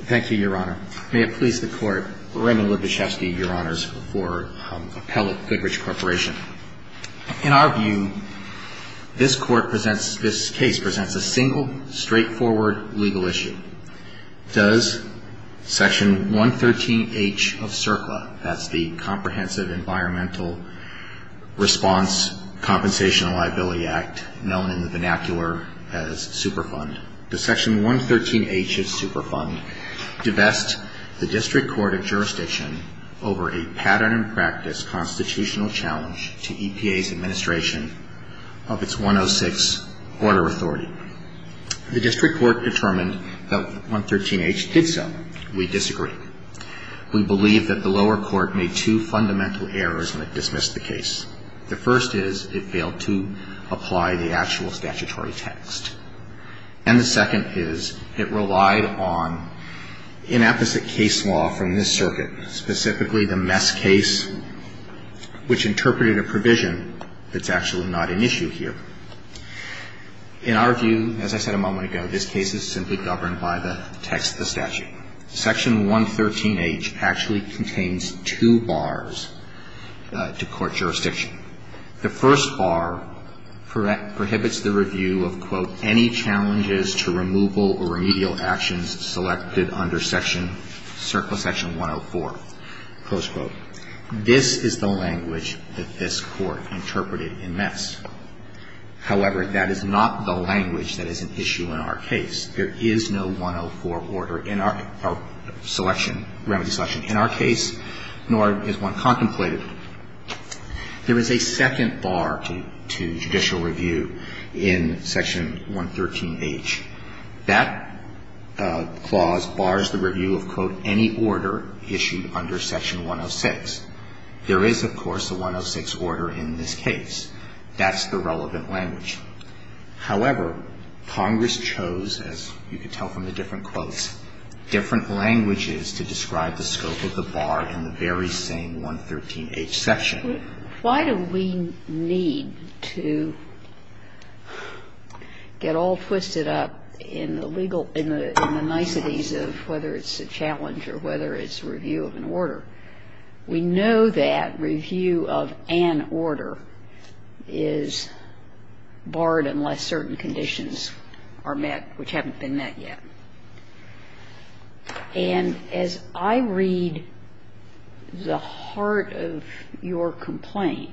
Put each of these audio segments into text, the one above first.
Thank you, Your Honor. May it please the Court, Raymond Lebeshefsky, Your Honors, for Appellate Thidrich Corporation. In our view, this Court presents, this case presents a single, straightforward legal issue. Does Section 113H of CERCLA, that's the Comprehensive Environmental Response Compensation and Liability Act, known in the vernacular as Superfund, does Section 113H of Superfund divest the District Court of Jurisdiction over a pattern and practice constitutional challenge to EPA's administration of its 106 border authority? The District Court determined that 113H did so. We disagree. We believe that the lower court made two fundamental errors when it dismissed the case. The first is it failed to apply the actual statutory text. And the second is it relied on inapposite case law from this circuit, specifically the mess case, which interpreted a provision that's actually not an issue here. In our view, as I said a moment ago, this case is simply governed by the text of the statute. Section 113H actually contains two bars to court jurisdiction. The first bar prohibits the review of, quote, any challenges to removal or remedial actions selected under Section CERCLA, Section 104, close quote. This is the language that this Court interpreted in mess. However, that is not the language that is an issue in our case. There is no for order in our selection, remedy selection in our case, nor is one contemplated. There is a second bar to judicial review in Section 113H. That clause bars the review of, quote, any order issued under Section 106. There is, of course, a 106 order in this case. That's the relevant language. However, Congress chose, as you can tell from the different quotes, different languages to describe the scope of the bar in the very same 113H section. Why do we need to get all twisted up in the legal, in the niceties of whether it's a challenge or whether it's review of an order? We know that review of an order is barred unless certain conditions are met which haven't been met yet. And as I read the heart of your complaint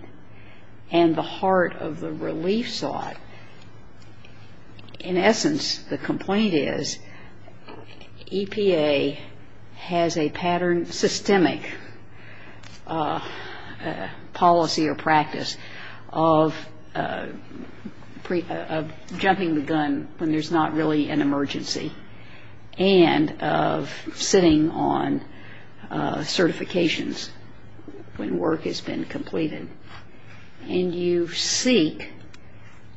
and the heart of the relief slot, in essence, the complaint is EPA has a pattern, systemic policy or practice of jumping the gun when there's not really an emergency and of sitting on certifications when work has been completed. And you seek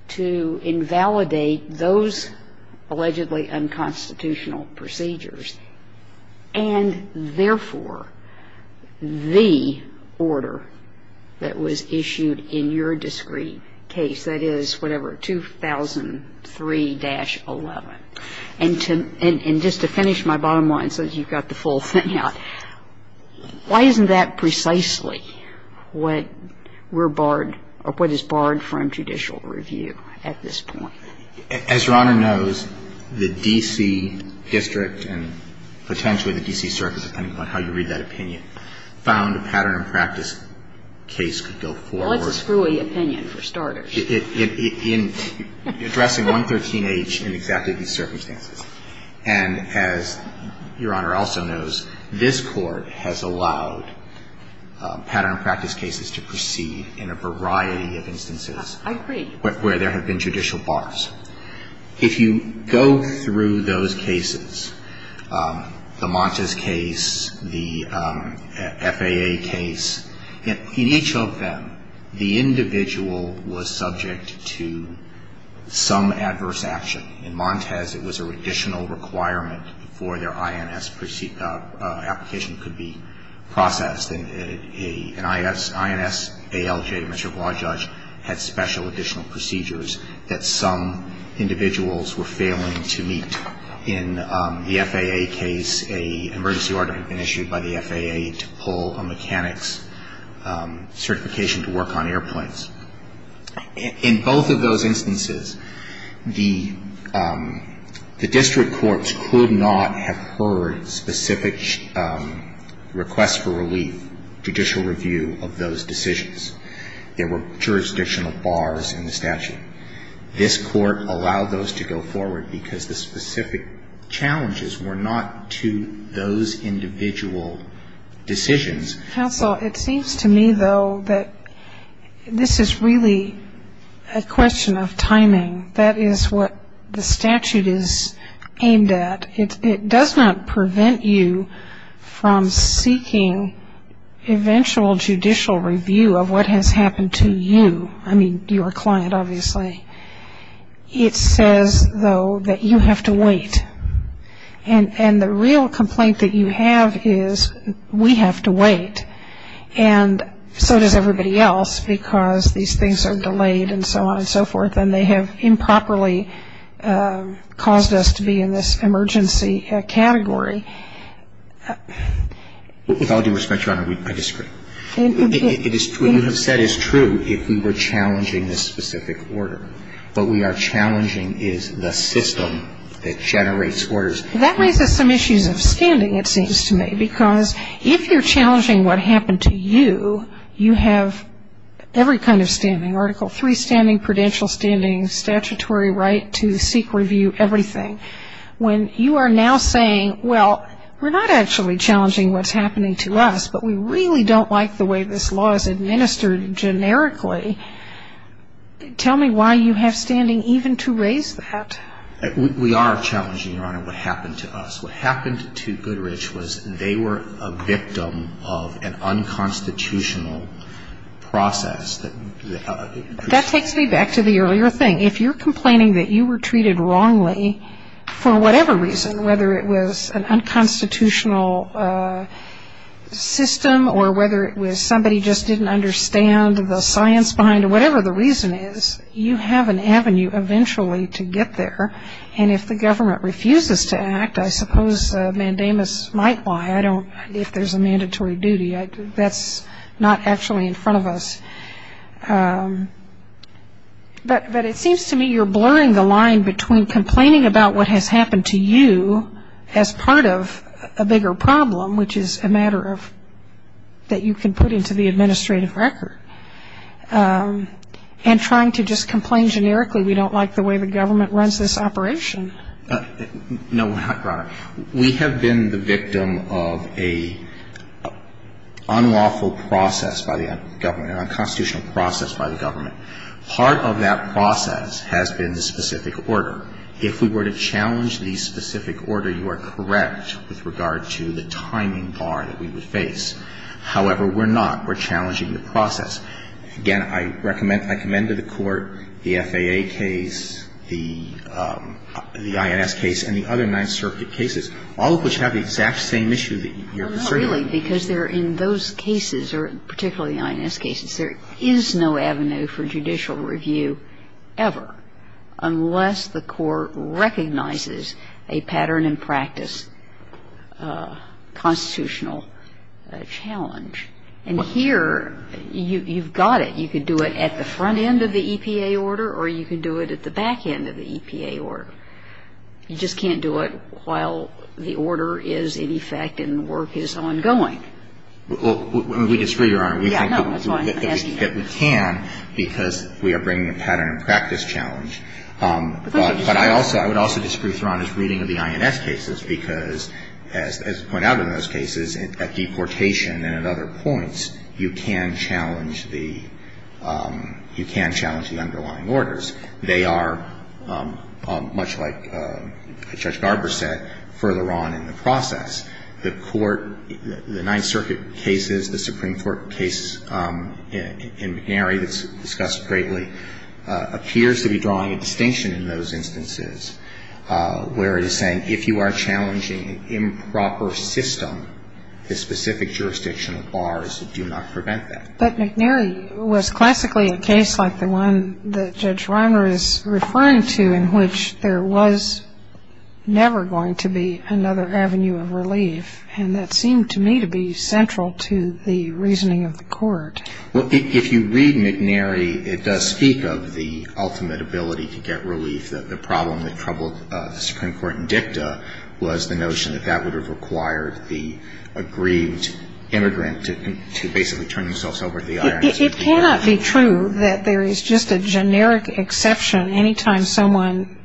to invalidate those allegedly unconstitutional procedures and, therefore, the order that was issued in your discrete case, that is, whatever, 2003-11. And just to finish my bottom line, since you've got the full thing out, why isn't that precisely what we're barred or what is barred from judicial review at this point? As Your Honor knows, the D.C. district and potentially the D.C. circuit, depending upon how you read that opinion, found a pattern and practice case could go forward. Well, it's a screwy opinion, for starters. In addressing 113H in exactly these circumstances. And as Your Honor also knows, this Court has allowed pattern and practice cases to proceed in a variety of instances I agree. Where there have been judicial bars. If you go through those cases, the Montes case, the FAA case, in each of them, the individual was subject to some adverse action. In Montes it was an additional requirement for their INS application to be processed. An INS ALJ, Mr. Guajaj, had special additional procedures that some individuals were failing to meet. In the FAA case, an emergency order had been issued by the FAA to pull a mechanic's certification to work on airplanes. In both of those instances, the district courts could not have heard specific requests for relief, judicial review of those decisions. There were jurisdictional bars in the statute. This Court allowed those to go forward because the specific challenges were not to those individual decisions. Counsel, it seems to me, though, that this is really a question of timing. That is what the statute is aimed at. It does not prevent you from seeking eventual judicial review of what has happened to you. I mean, your client, obviously. It says, though, that you have to wait. And the real complaint that you have is, we have to wait. And so does everybody else because these things are delayed and so on and so forth. And they have improperly caused us to be in this emergency category. With all due respect, Your Honor, I disagree. What you have said is true if we were challenging this specific order. What we are challenging is the system that generates orders. That raises some issues of standing, it seems to me. Because if you're challenging what happened to you, you have every kind of standing. Article III standing, prudential standing, statutory right to seek review, everything. When you are now saying, well, we're not actually challenging what's happening to us, but we really don't like the way this law is administered generically, tell me why you have standing even to raise that. We are challenging, Your Honor, what happened to us. What happened to Goodrich was they were a victim of an unconstitutional process. That takes me back to the earlier thing. If you're complaining that you were treated wrongly for whatever reason, whether it was an unconstitutional system or whether it was somebody just didn't understand the science behind it, whatever the reason is, you have an avenue eventually to get there. And if the government refuses to act, I suppose mandamus might lie. I don't know if there's a mandatory duty. That's not actually in front of us. But it seems to me you're blurring the line between complaining about what has happened to you as part of a bigger problem, which is a matter of that you can put into the administrative record, and trying to just complain generically we don't like the way the government runs this operation. No, Your Honor. We have been the victim of an unlawful process by the government, an unconstitutional process by the government. Part of that process has been the specific order. If we were to challenge the specific order, you are correct with regard to the timing bar that we would face. However, we're not. We're challenging the process. Again, I recommend to the Court the FAA case, the INS case, and the other Ninth Circuit cases, all of which have the exact same issue that you're concerned with. No, really, because they're in those cases, or particularly the INS cases, there is no avenue for judicial review ever unless the Court recognizes a pattern and practice challenge. You've got it. You can do it at the front end of the EPA order, or you can do it at the back end of the EPA order. You just can't do it while the order is in effect and the work is ongoing. Well, we disagree, Your Honor. Yeah, no, that's fine. We think that we can because we are bringing a pattern and practice challenge. But I also, I would also disagree with Your Honor's reading of the INS cases, because as pointed out in those cases, at deportation and at other points, you can challenge the underlying orders. They are, much like Judge Garber said, further on in the process. The Court, the Ninth Circuit cases, the Supreme Court case in McNary that's discussed greatly, appears to be drawing a distinction in those instances where it is saying that if you are challenging an improper system, the specific jurisdiction of bars will do not prevent that. But McNary was classically a case like the one that Judge Reimer is referring to, in which there was never going to be another avenue of relief. And that seemed to me to be central to the reasoning of the Court. Well, if you read McNary, it does speak of the ultimate ability to get relief, the problem that troubled the Supreme Court in dicta was the notion that that would have required the aggrieved immigrant to basically turn themselves over to the IRS. It cannot be true that there is just a generic exception any time someone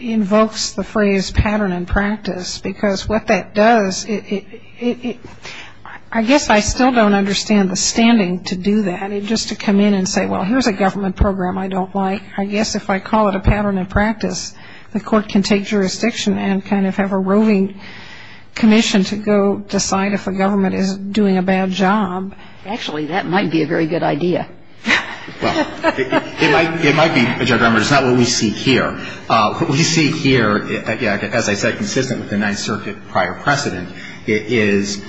invokes the phrase pattern and practice, because what that does, I guess I still don't understand the standing to do that, just to come in and say, well, here's a government program I don't like. I guess if I call it a pattern of practice, the Court can take jurisdiction and kind of have a roving commission to go decide if a government is doing a bad job. Actually, that might be a very good idea. Well, it might be, Judge Reimer. It's not what we see here. What we see here, as I said, consistent with the Ninth Circuit prior precedent, is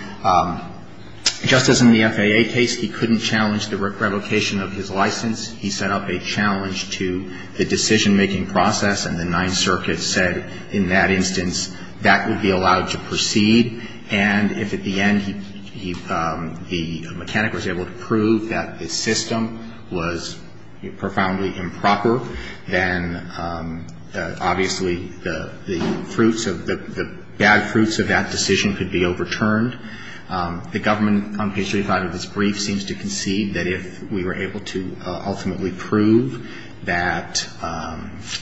just as in the FAA case, he couldn't challenge the revocation of his license, he set up a challenge to the decision-making process, and the Ninth Circuit said, in that instance, that would be allowed to proceed, and if at the end he, the mechanic was able to prove that the system was profoundly improper, then obviously the fruits of, the bad fruits of that decision could be overturned. The government, on page 35 of this brief, seems to concede that if we were able to ultimately prove that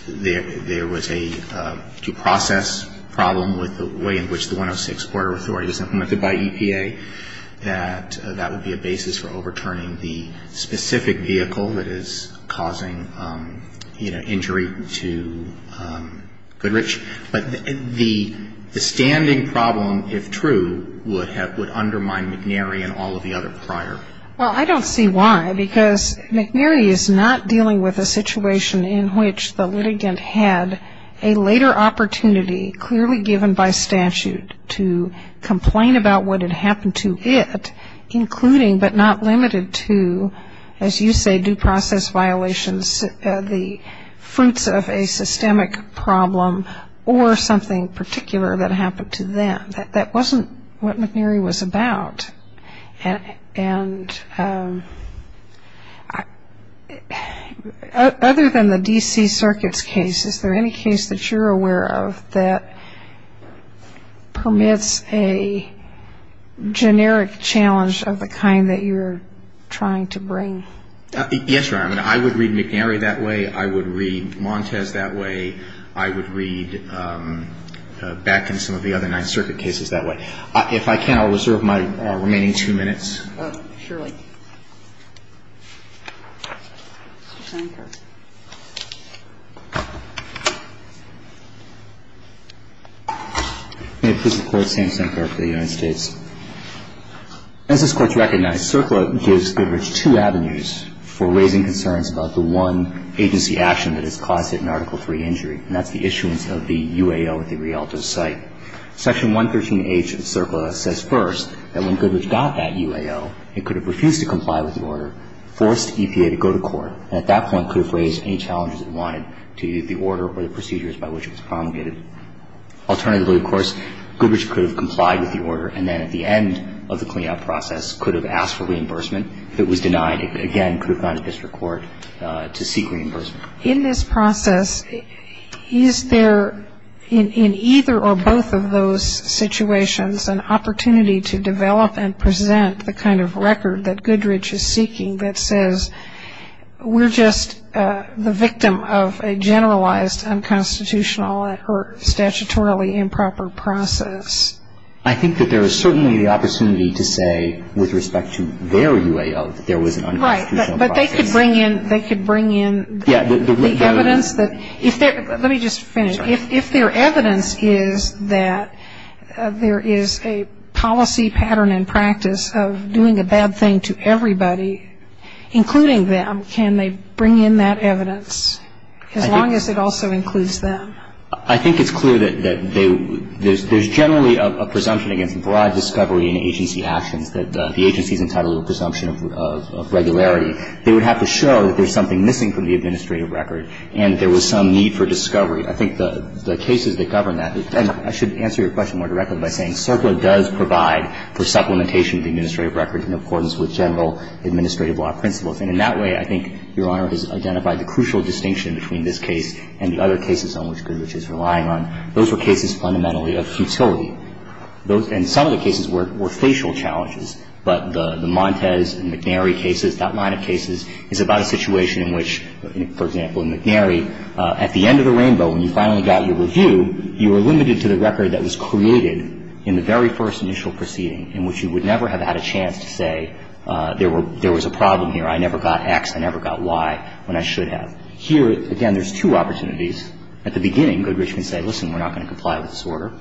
there was a due process problem with the way in which the 106 Porter Authority was implemented by EPA, that that would be a basis for overturning the specific vehicle that is causing injury to Goodrich. But the standing problem, if true, would undermine McNary and all of the other prior. Well, I don't see why, because McNary is not dealing with a situation in which the litigant had a later opportunity, clearly given by statute, to complain about what had happened to it, including but not limited to, as you say, due process violations, the fruits of a systemic problem, or something particular that happened to them. That wasn't what McNary was about. Other than the D.C. Circuit's case, is there any case that you're aware of that permits a generic challenge of the kind that you're trying to bring? Yes, Your Honor. I would read McNary that way. I would read Montez that way. I would read back in some of the other Ninth Circuit cases that way. If I can, I'll reserve my remaining two minutes. Oh, surely. Sam Sankar. May it please the Court, Sam Sankar for the United States. As this Court's recognized, CERCLA gives Goodrich two avenues for raising concerns about the one agency action that has caused him Article III injury, and that's the issuance of the UAO at the Rialto site. Section 113H of CERCLA says first that when Goodrich got that UAO, he could have refused to comply with the order, forced EPA to go to court, and at that point could have raised any challenges it wanted to the order or the procedures by which it was promulgated. Alternatively, of course, Goodrich could have complied with the order, and then at the end of the clean-up process could have asked for reimbursement. If it was denied, it again could have gone to district court to seek reimbursement. In this process, is there in either or both of those situations an opportunity to develop and present the kind of record that Goodrich is seeking that says we're just the victim of a generalized unconstitutional or statutorily improper process? I think that there is certainly the opportunity to say with respect to their UAO that there was an unconstitutional process. Right, but they could bring in the evidence that if their evidence is that there is a policy pattern and practice of doing a bad thing to everybody, including them, can they bring in that evidence, as long as it also includes them? I think it's clear that there's generally a presumption against broad discovery in agency actions that the agency is entitled to a presumption of regularity. They would have to show that there's something missing from the administrative record and there was some need for discovery. I think the cases that govern that, and I should answer your question more directly by saying CERPA does provide for supplementation of the administrative record in accordance with general administrative law principles. And in that way, I think Your Honor has identified the crucial distinction between this case and the other cases on which Goodrich is relying on. Those were cases fundamentally of futility. And some of the cases were facial challenges. But the Montez and McNary cases, that line of cases, is about a situation in which, for example, in McNary, at the end of the rainbow when you finally got your review, you were limited to the record that was created in the very first initial proceeding in which you would never have had a chance to say there was a problem here, I never got X, I never got Y, when I should have. Here, again, there's two opportunities. At the beginning, Goodrich can say, listen, we're not going to comply with this order.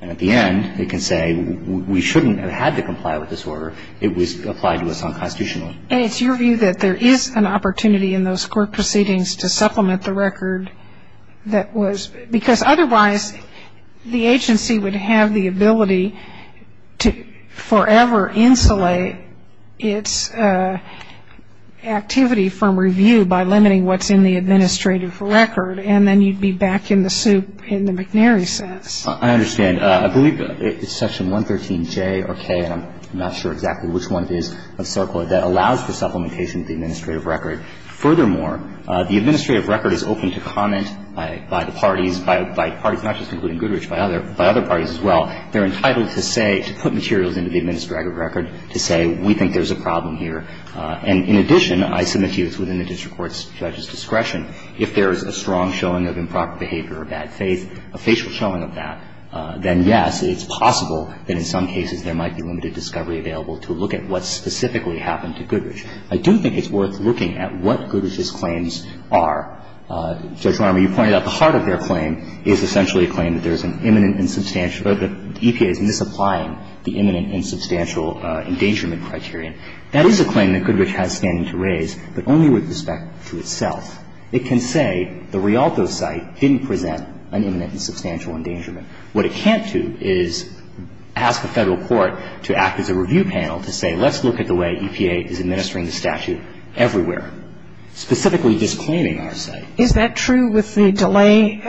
And at the end, it can say we shouldn't have had to comply with this order. It was applied to us unconstitutionally. And it's your view that there is an opportunity in those court proceedings to supplement the record that was, because otherwise the agency would have the ability to forever insulate its activity from review by limiting what's in the administrative record, and then you'd be back in the soup in the McNary sense. I understand. I believe it's Section 113J or K, and I'm not sure exactly which one it is, of CERCLA, that allows for supplementation of the administrative record. Furthermore, the administrative record is open to comment by the parties, by parties not just including Goodrich, by other parties as well. They're entitled to say, to put materials into the administrative record to say we think there's a problem here. And in addition, I submit to you it's within the district court's judge's discretion if there is a strong showing of improper behavior or bad faith, a facial showing of that, then, yes, it's possible that in some cases there might be limited discovery available to look at what specifically happened to Goodrich. I do think it's worth looking at what Goodrich's claims are. Judge Romney, you pointed out the heart of their claim is essentially a claim that there is an imminent and substantial or that EPA is misapplying the imminent and substantial endangerment criterion. That is a claim that Goodrich has standing to raise, but only with respect to itself. It can say the Rialto site didn't present an imminent and substantial endangerment. What it can't do is ask a Federal court to act as a review panel to say let's look at the way EPA is administering the statute everywhere, specifically disclaiming our site. Is that true with the delay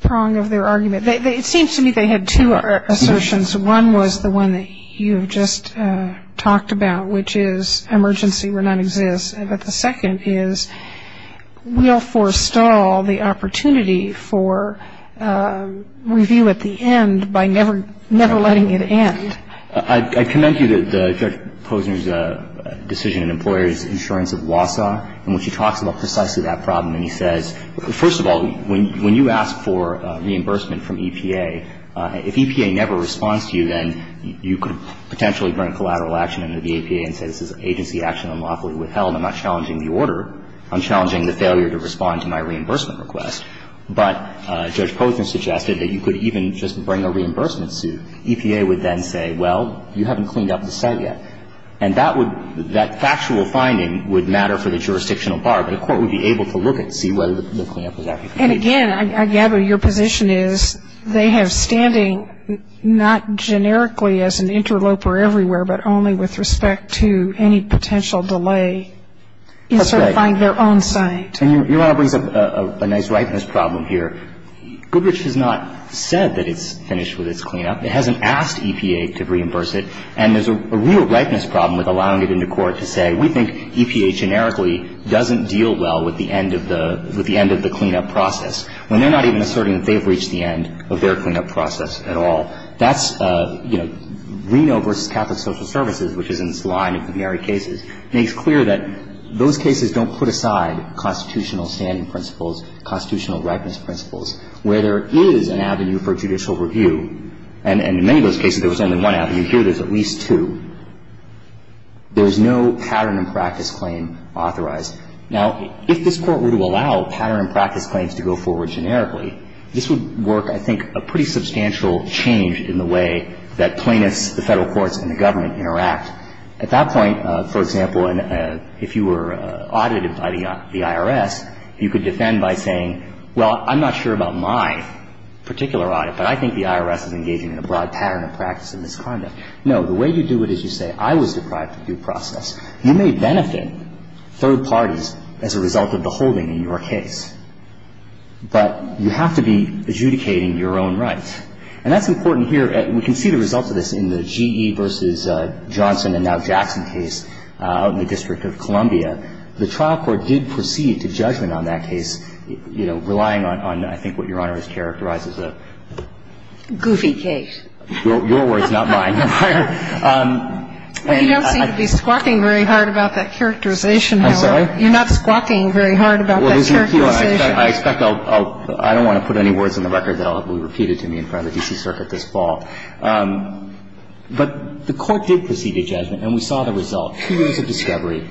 prong of their argument? It seems to me they had two assertions. One was the one that you have just talked about, which is emergency will not exist. But the second is, we'll forestall the opportunity for review at the end by never letting it end. I commend you that Judge Posner's decision in Employers Insurance of Wausau, in which he talks about precisely that problem. And he says, first of all, when you ask for reimbursement from EPA, if EPA never responds to you, then you could potentially bring collateral action into the EPA and say this is agency action unlawfully withheld. I'm not challenging the order. I'm challenging the failure to respond to my reimbursement request. But Judge Posner suggested that you could even just bring a reimbursement suit. EPA would then say, well, you haven't cleaned up the site yet. And that would, that factual finding would matter for the jurisdictional bar, but the court would be able to look and see whether the cleanup was actually completed. And again, I gather your position is they have standing not generically as an interloper everywhere, but only with respect to any potential delay in certifying their own site. That's right. And Your Honor brings up a nice ripeness problem here. Goodrich has not said that it's finished with its cleanup. It hasn't asked EPA to reimburse it. And there's a real ripeness problem with allowing it into court to say we think EPA generically doesn't deal well with the end of the, with the end of the cleanup process, when they're not even asserting that they've reached the end of their cleanup process at all. That's, you know, Reno v. Catholic Social Services, which is in this line of primary cases, makes clear that those cases don't put aside constitutional standing principles, constitutional ripeness principles, where there is an avenue for judicial review. And in many of those cases, there was only one avenue. Here, there's at least two. There's no pattern and practice claim authorized. Now, if this Court were to allow pattern and practice claims to go forward generically, this would work, I think, a pretty substantial change in the way that plaintiffs, the Federal courts, and the government interact. At that point, for example, if you were audited by the IRS, you could defend by saying, well, I'm not sure about my particular audit, but I think the IRS is engaging in a broad pattern of practice and misconduct. No. The way you do it is you say I was deprived of due process. You may benefit third parties as a result of the holding in your case, but you have to be adjudicating your own rights. And that's important here. We can see the results of this in the GE v. Johnson and now Jackson case out in the District of Columbia. The trial court did proceed to judgment on that case, you know, relying on, I think, what Your Honor has characterized as a goofy case. Your words, not mine. Well, you don't seem to be squawking very hard about that characterization. I'm sorry? You're not squawking very hard about that characterization. I expect I'll – I don't want to put any words in the record that will be repeated to me in front of the D.C. Circuit this fall. But the court did proceed to judgment, and we saw the result. Two years of discovery,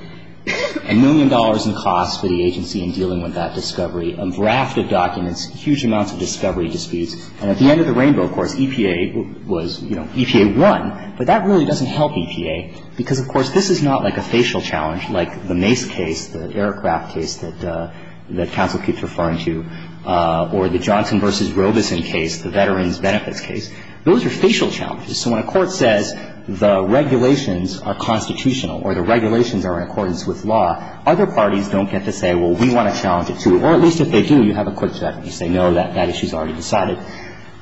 a million dollars in costs for the agency in dealing with that discovery, a draft of documents, huge amounts of discovery disputes. And at the end of the rainbow, of course, EPA was, you know, EPA won. But that really doesn't help EPA because, of course, this is not like a facial challenge, like the Mace case, the aircraft case that counsel keeps referring to, or the Johnson v. Robeson case, the Veterans Benefits case. Those are facial challenges. So when a court says the regulations are constitutional or the regulations are in accordance with law, other parties don't get to say, well, we want to challenge it, too. Or at least if they do, you have a quick judgment. You say, no, that issue's already decided.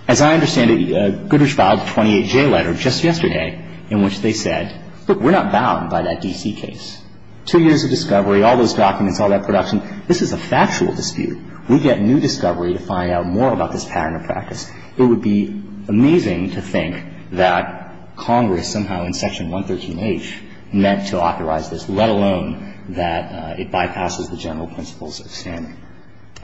As I understand it, Goodrich filed a 28-J letter just yesterday in which they said, look, we're not bound by that D.C. case. Two years of discovery, all those documents, all that production. This is a factual dispute. We get new discovery to find out more about this pattern of practice. It would be amazing to think that Congress somehow in Section 113H meant to authorize this, let alone that it bypasses the general principles of standing.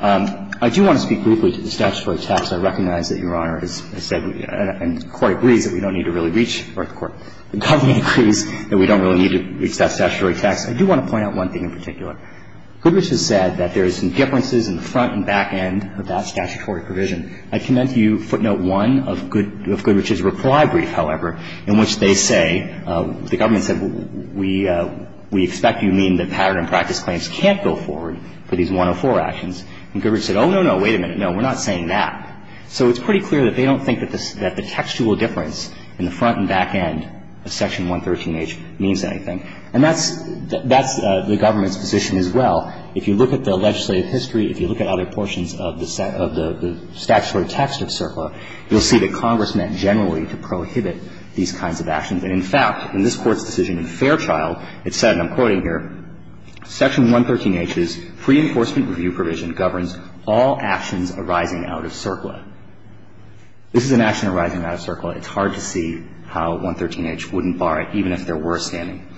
I do want to speak briefly to the statutory text. I recognize that Your Honor has said and the Court agrees that we don't need to really reach the Court. The government agrees that we don't really need to reach that statutory text. I do want to point out one thing in particular. Goodrich has said that there are some differences in the front and back end of that statutory provision. I commend to you footnote 1 of Goodrich's reply brief, however, in which they say the government said we expect you to mean that pattern of practice claims can't go forward for these 104 actions. And Goodrich said, oh, no, no, wait a minute. No, we're not saying that. So it's pretty clear that they don't think that the textual difference in the front and back end of Section 113H means anything. And that's the government's position as well. If you look at the legislative history, if you look at other portions of the statutory text of CERCLA, you'll see that Congress meant generally to prohibit these kinds of actions. And, in fact, in this Court's decision in Fairchild, it said, and I'm quoting here, Section 113H's preenforcement review provision governs all actions arising out of CERCLA. This is an action arising out of CERCLA. It's hard to see how 113H wouldn't bar it, even if there were a standing.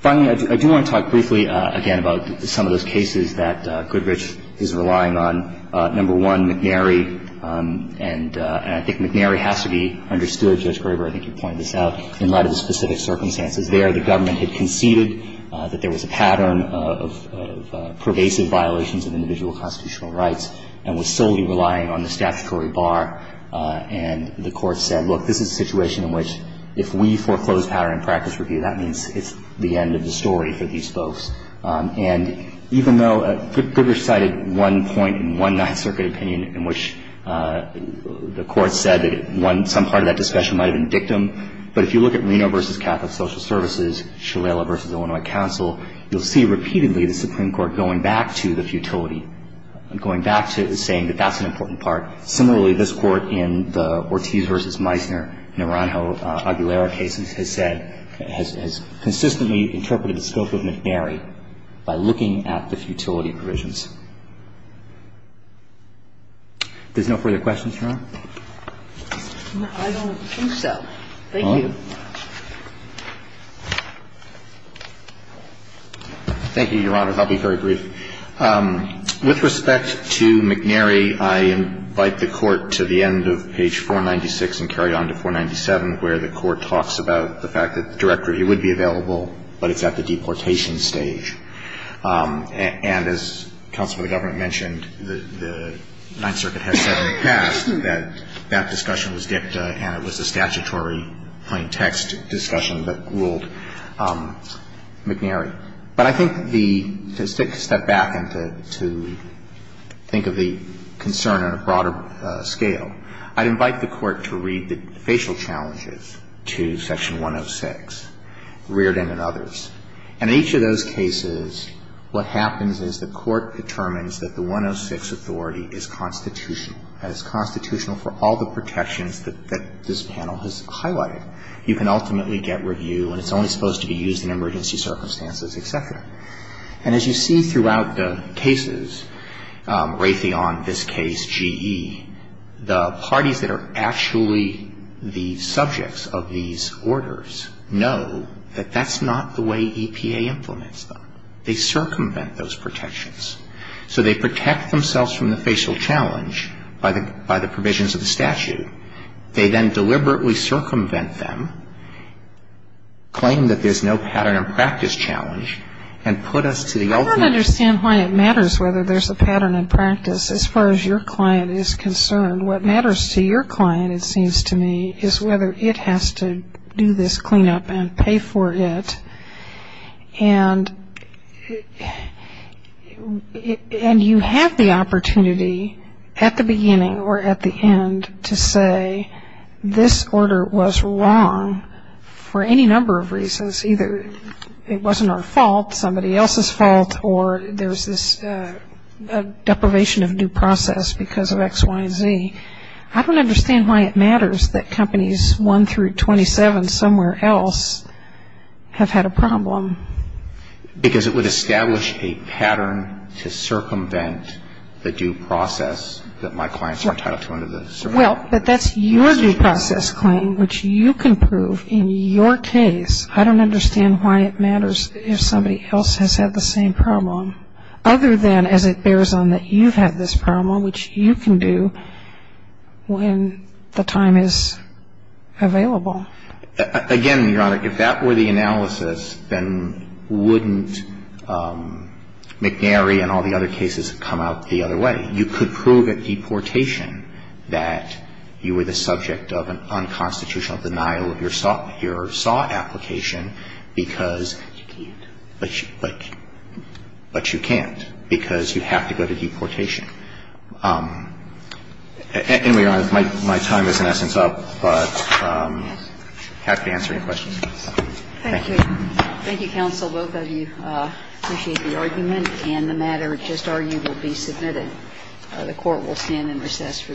Finally, I do want to talk briefly, again, about some of those cases that Goodrich is relying on. Number one, McNary. And I think McNary has to be understood. Judge Graber, I think you pointed this out. In light of the specific circumstances there, the government had conceded that there was a pattern of pervasive violations of individual constitutional rights and was solely relying on the statutory bar. And the Court said, look, this is a situation in which if we foreclose pattern and practice review, that means it's the end of the story for these folks. And even though Goodrich cited one point in one Ninth Circuit opinion in which the Court said that some part of that discussion might have been dictum, but if you look at Reno v. Catholic Social Services, Shalala v. Illinois Council, you'll see repeatedly the Supreme Court going back to the futility, going back to saying that that's an important part. Similarly, this Court in the Ortiz v. Meissner, Naranjo Aguilera cases has said, has consistently interpreted the scope of McNary by looking at the futility provisions. There's no further questions, Your Honor? No, I don't think so. Thank you. Thank you, Your Honor. I'll be very brief. With respect to McNary, I invite the Court to the end of page 496 and carry on to 497, where the Court talks about the fact that direct review would be available, but it's at the deportation stage. And as Counsel for the Government mentioned, the Ninth Circuit has said in the past that that discussion was dictum and it was a statutory plain text discussion that ruled McNary. But I think the — to step back and to think of the concern on a broader scale, I'd like the Court to read the facial challenges to section 106, Reardon and others. And in each of those cases, what happens is the Court determines that the 106 authority is constitutional, that it's constitutional for all the protections that this panel has highlighted. You can ultimately get review and it's only supposed to be used in emergency circumstances, et cetera. And as you see throughout the cases, Raytheon, this case, GE, the parties that are actually the subjects of these orders know that that's not the way EPA implements them. They circumvent those protections. So they protect themselves from the facial challenge by the provisions of the statute. They then deliberately circumvent them, claim that there's no pattern and practice challenge, and put us to the ultimate — I don't understand why it matters whether there's a pattern and practice. As far as your client is concerned, what matters to your client, it seems to me, is whether it has to do this cleanup and pay for it. And you have the opportunity at the beginning or at the end to say this order was wrong for any number of reasons, either it wasn't our fault, somebody else's fault, or there's this deprivation of due process because of X, Y, and Z. I don't understand why it matters that companies 1 through 27 somewhere else have had a problem. Because it would establish a pattern to circumvent the due process that my clients are entitled to under the circumstances. Well, but that's your due process claim, which you can prove in your case. I don't understand why it matters if somebody else has had the same problem, other than as it bears on that you've had this problem, which you can do when the time is available. Again, Your Honor, if that were the analysis, then wouldn't McNary and all the other cases come out the other way? You could prove at deportation that you were the subject of an unconstitutional denial of your SAW application because you can't. But you can't because you have to go to deportation. Anyway, Your Honor, my time is in essence up, but I'm happy to answer any questions. Thank you. Thank you, counsel. Both of you, I appreciate the argument. And the matter just argued will be submitted. The Court will stand in recess for the day.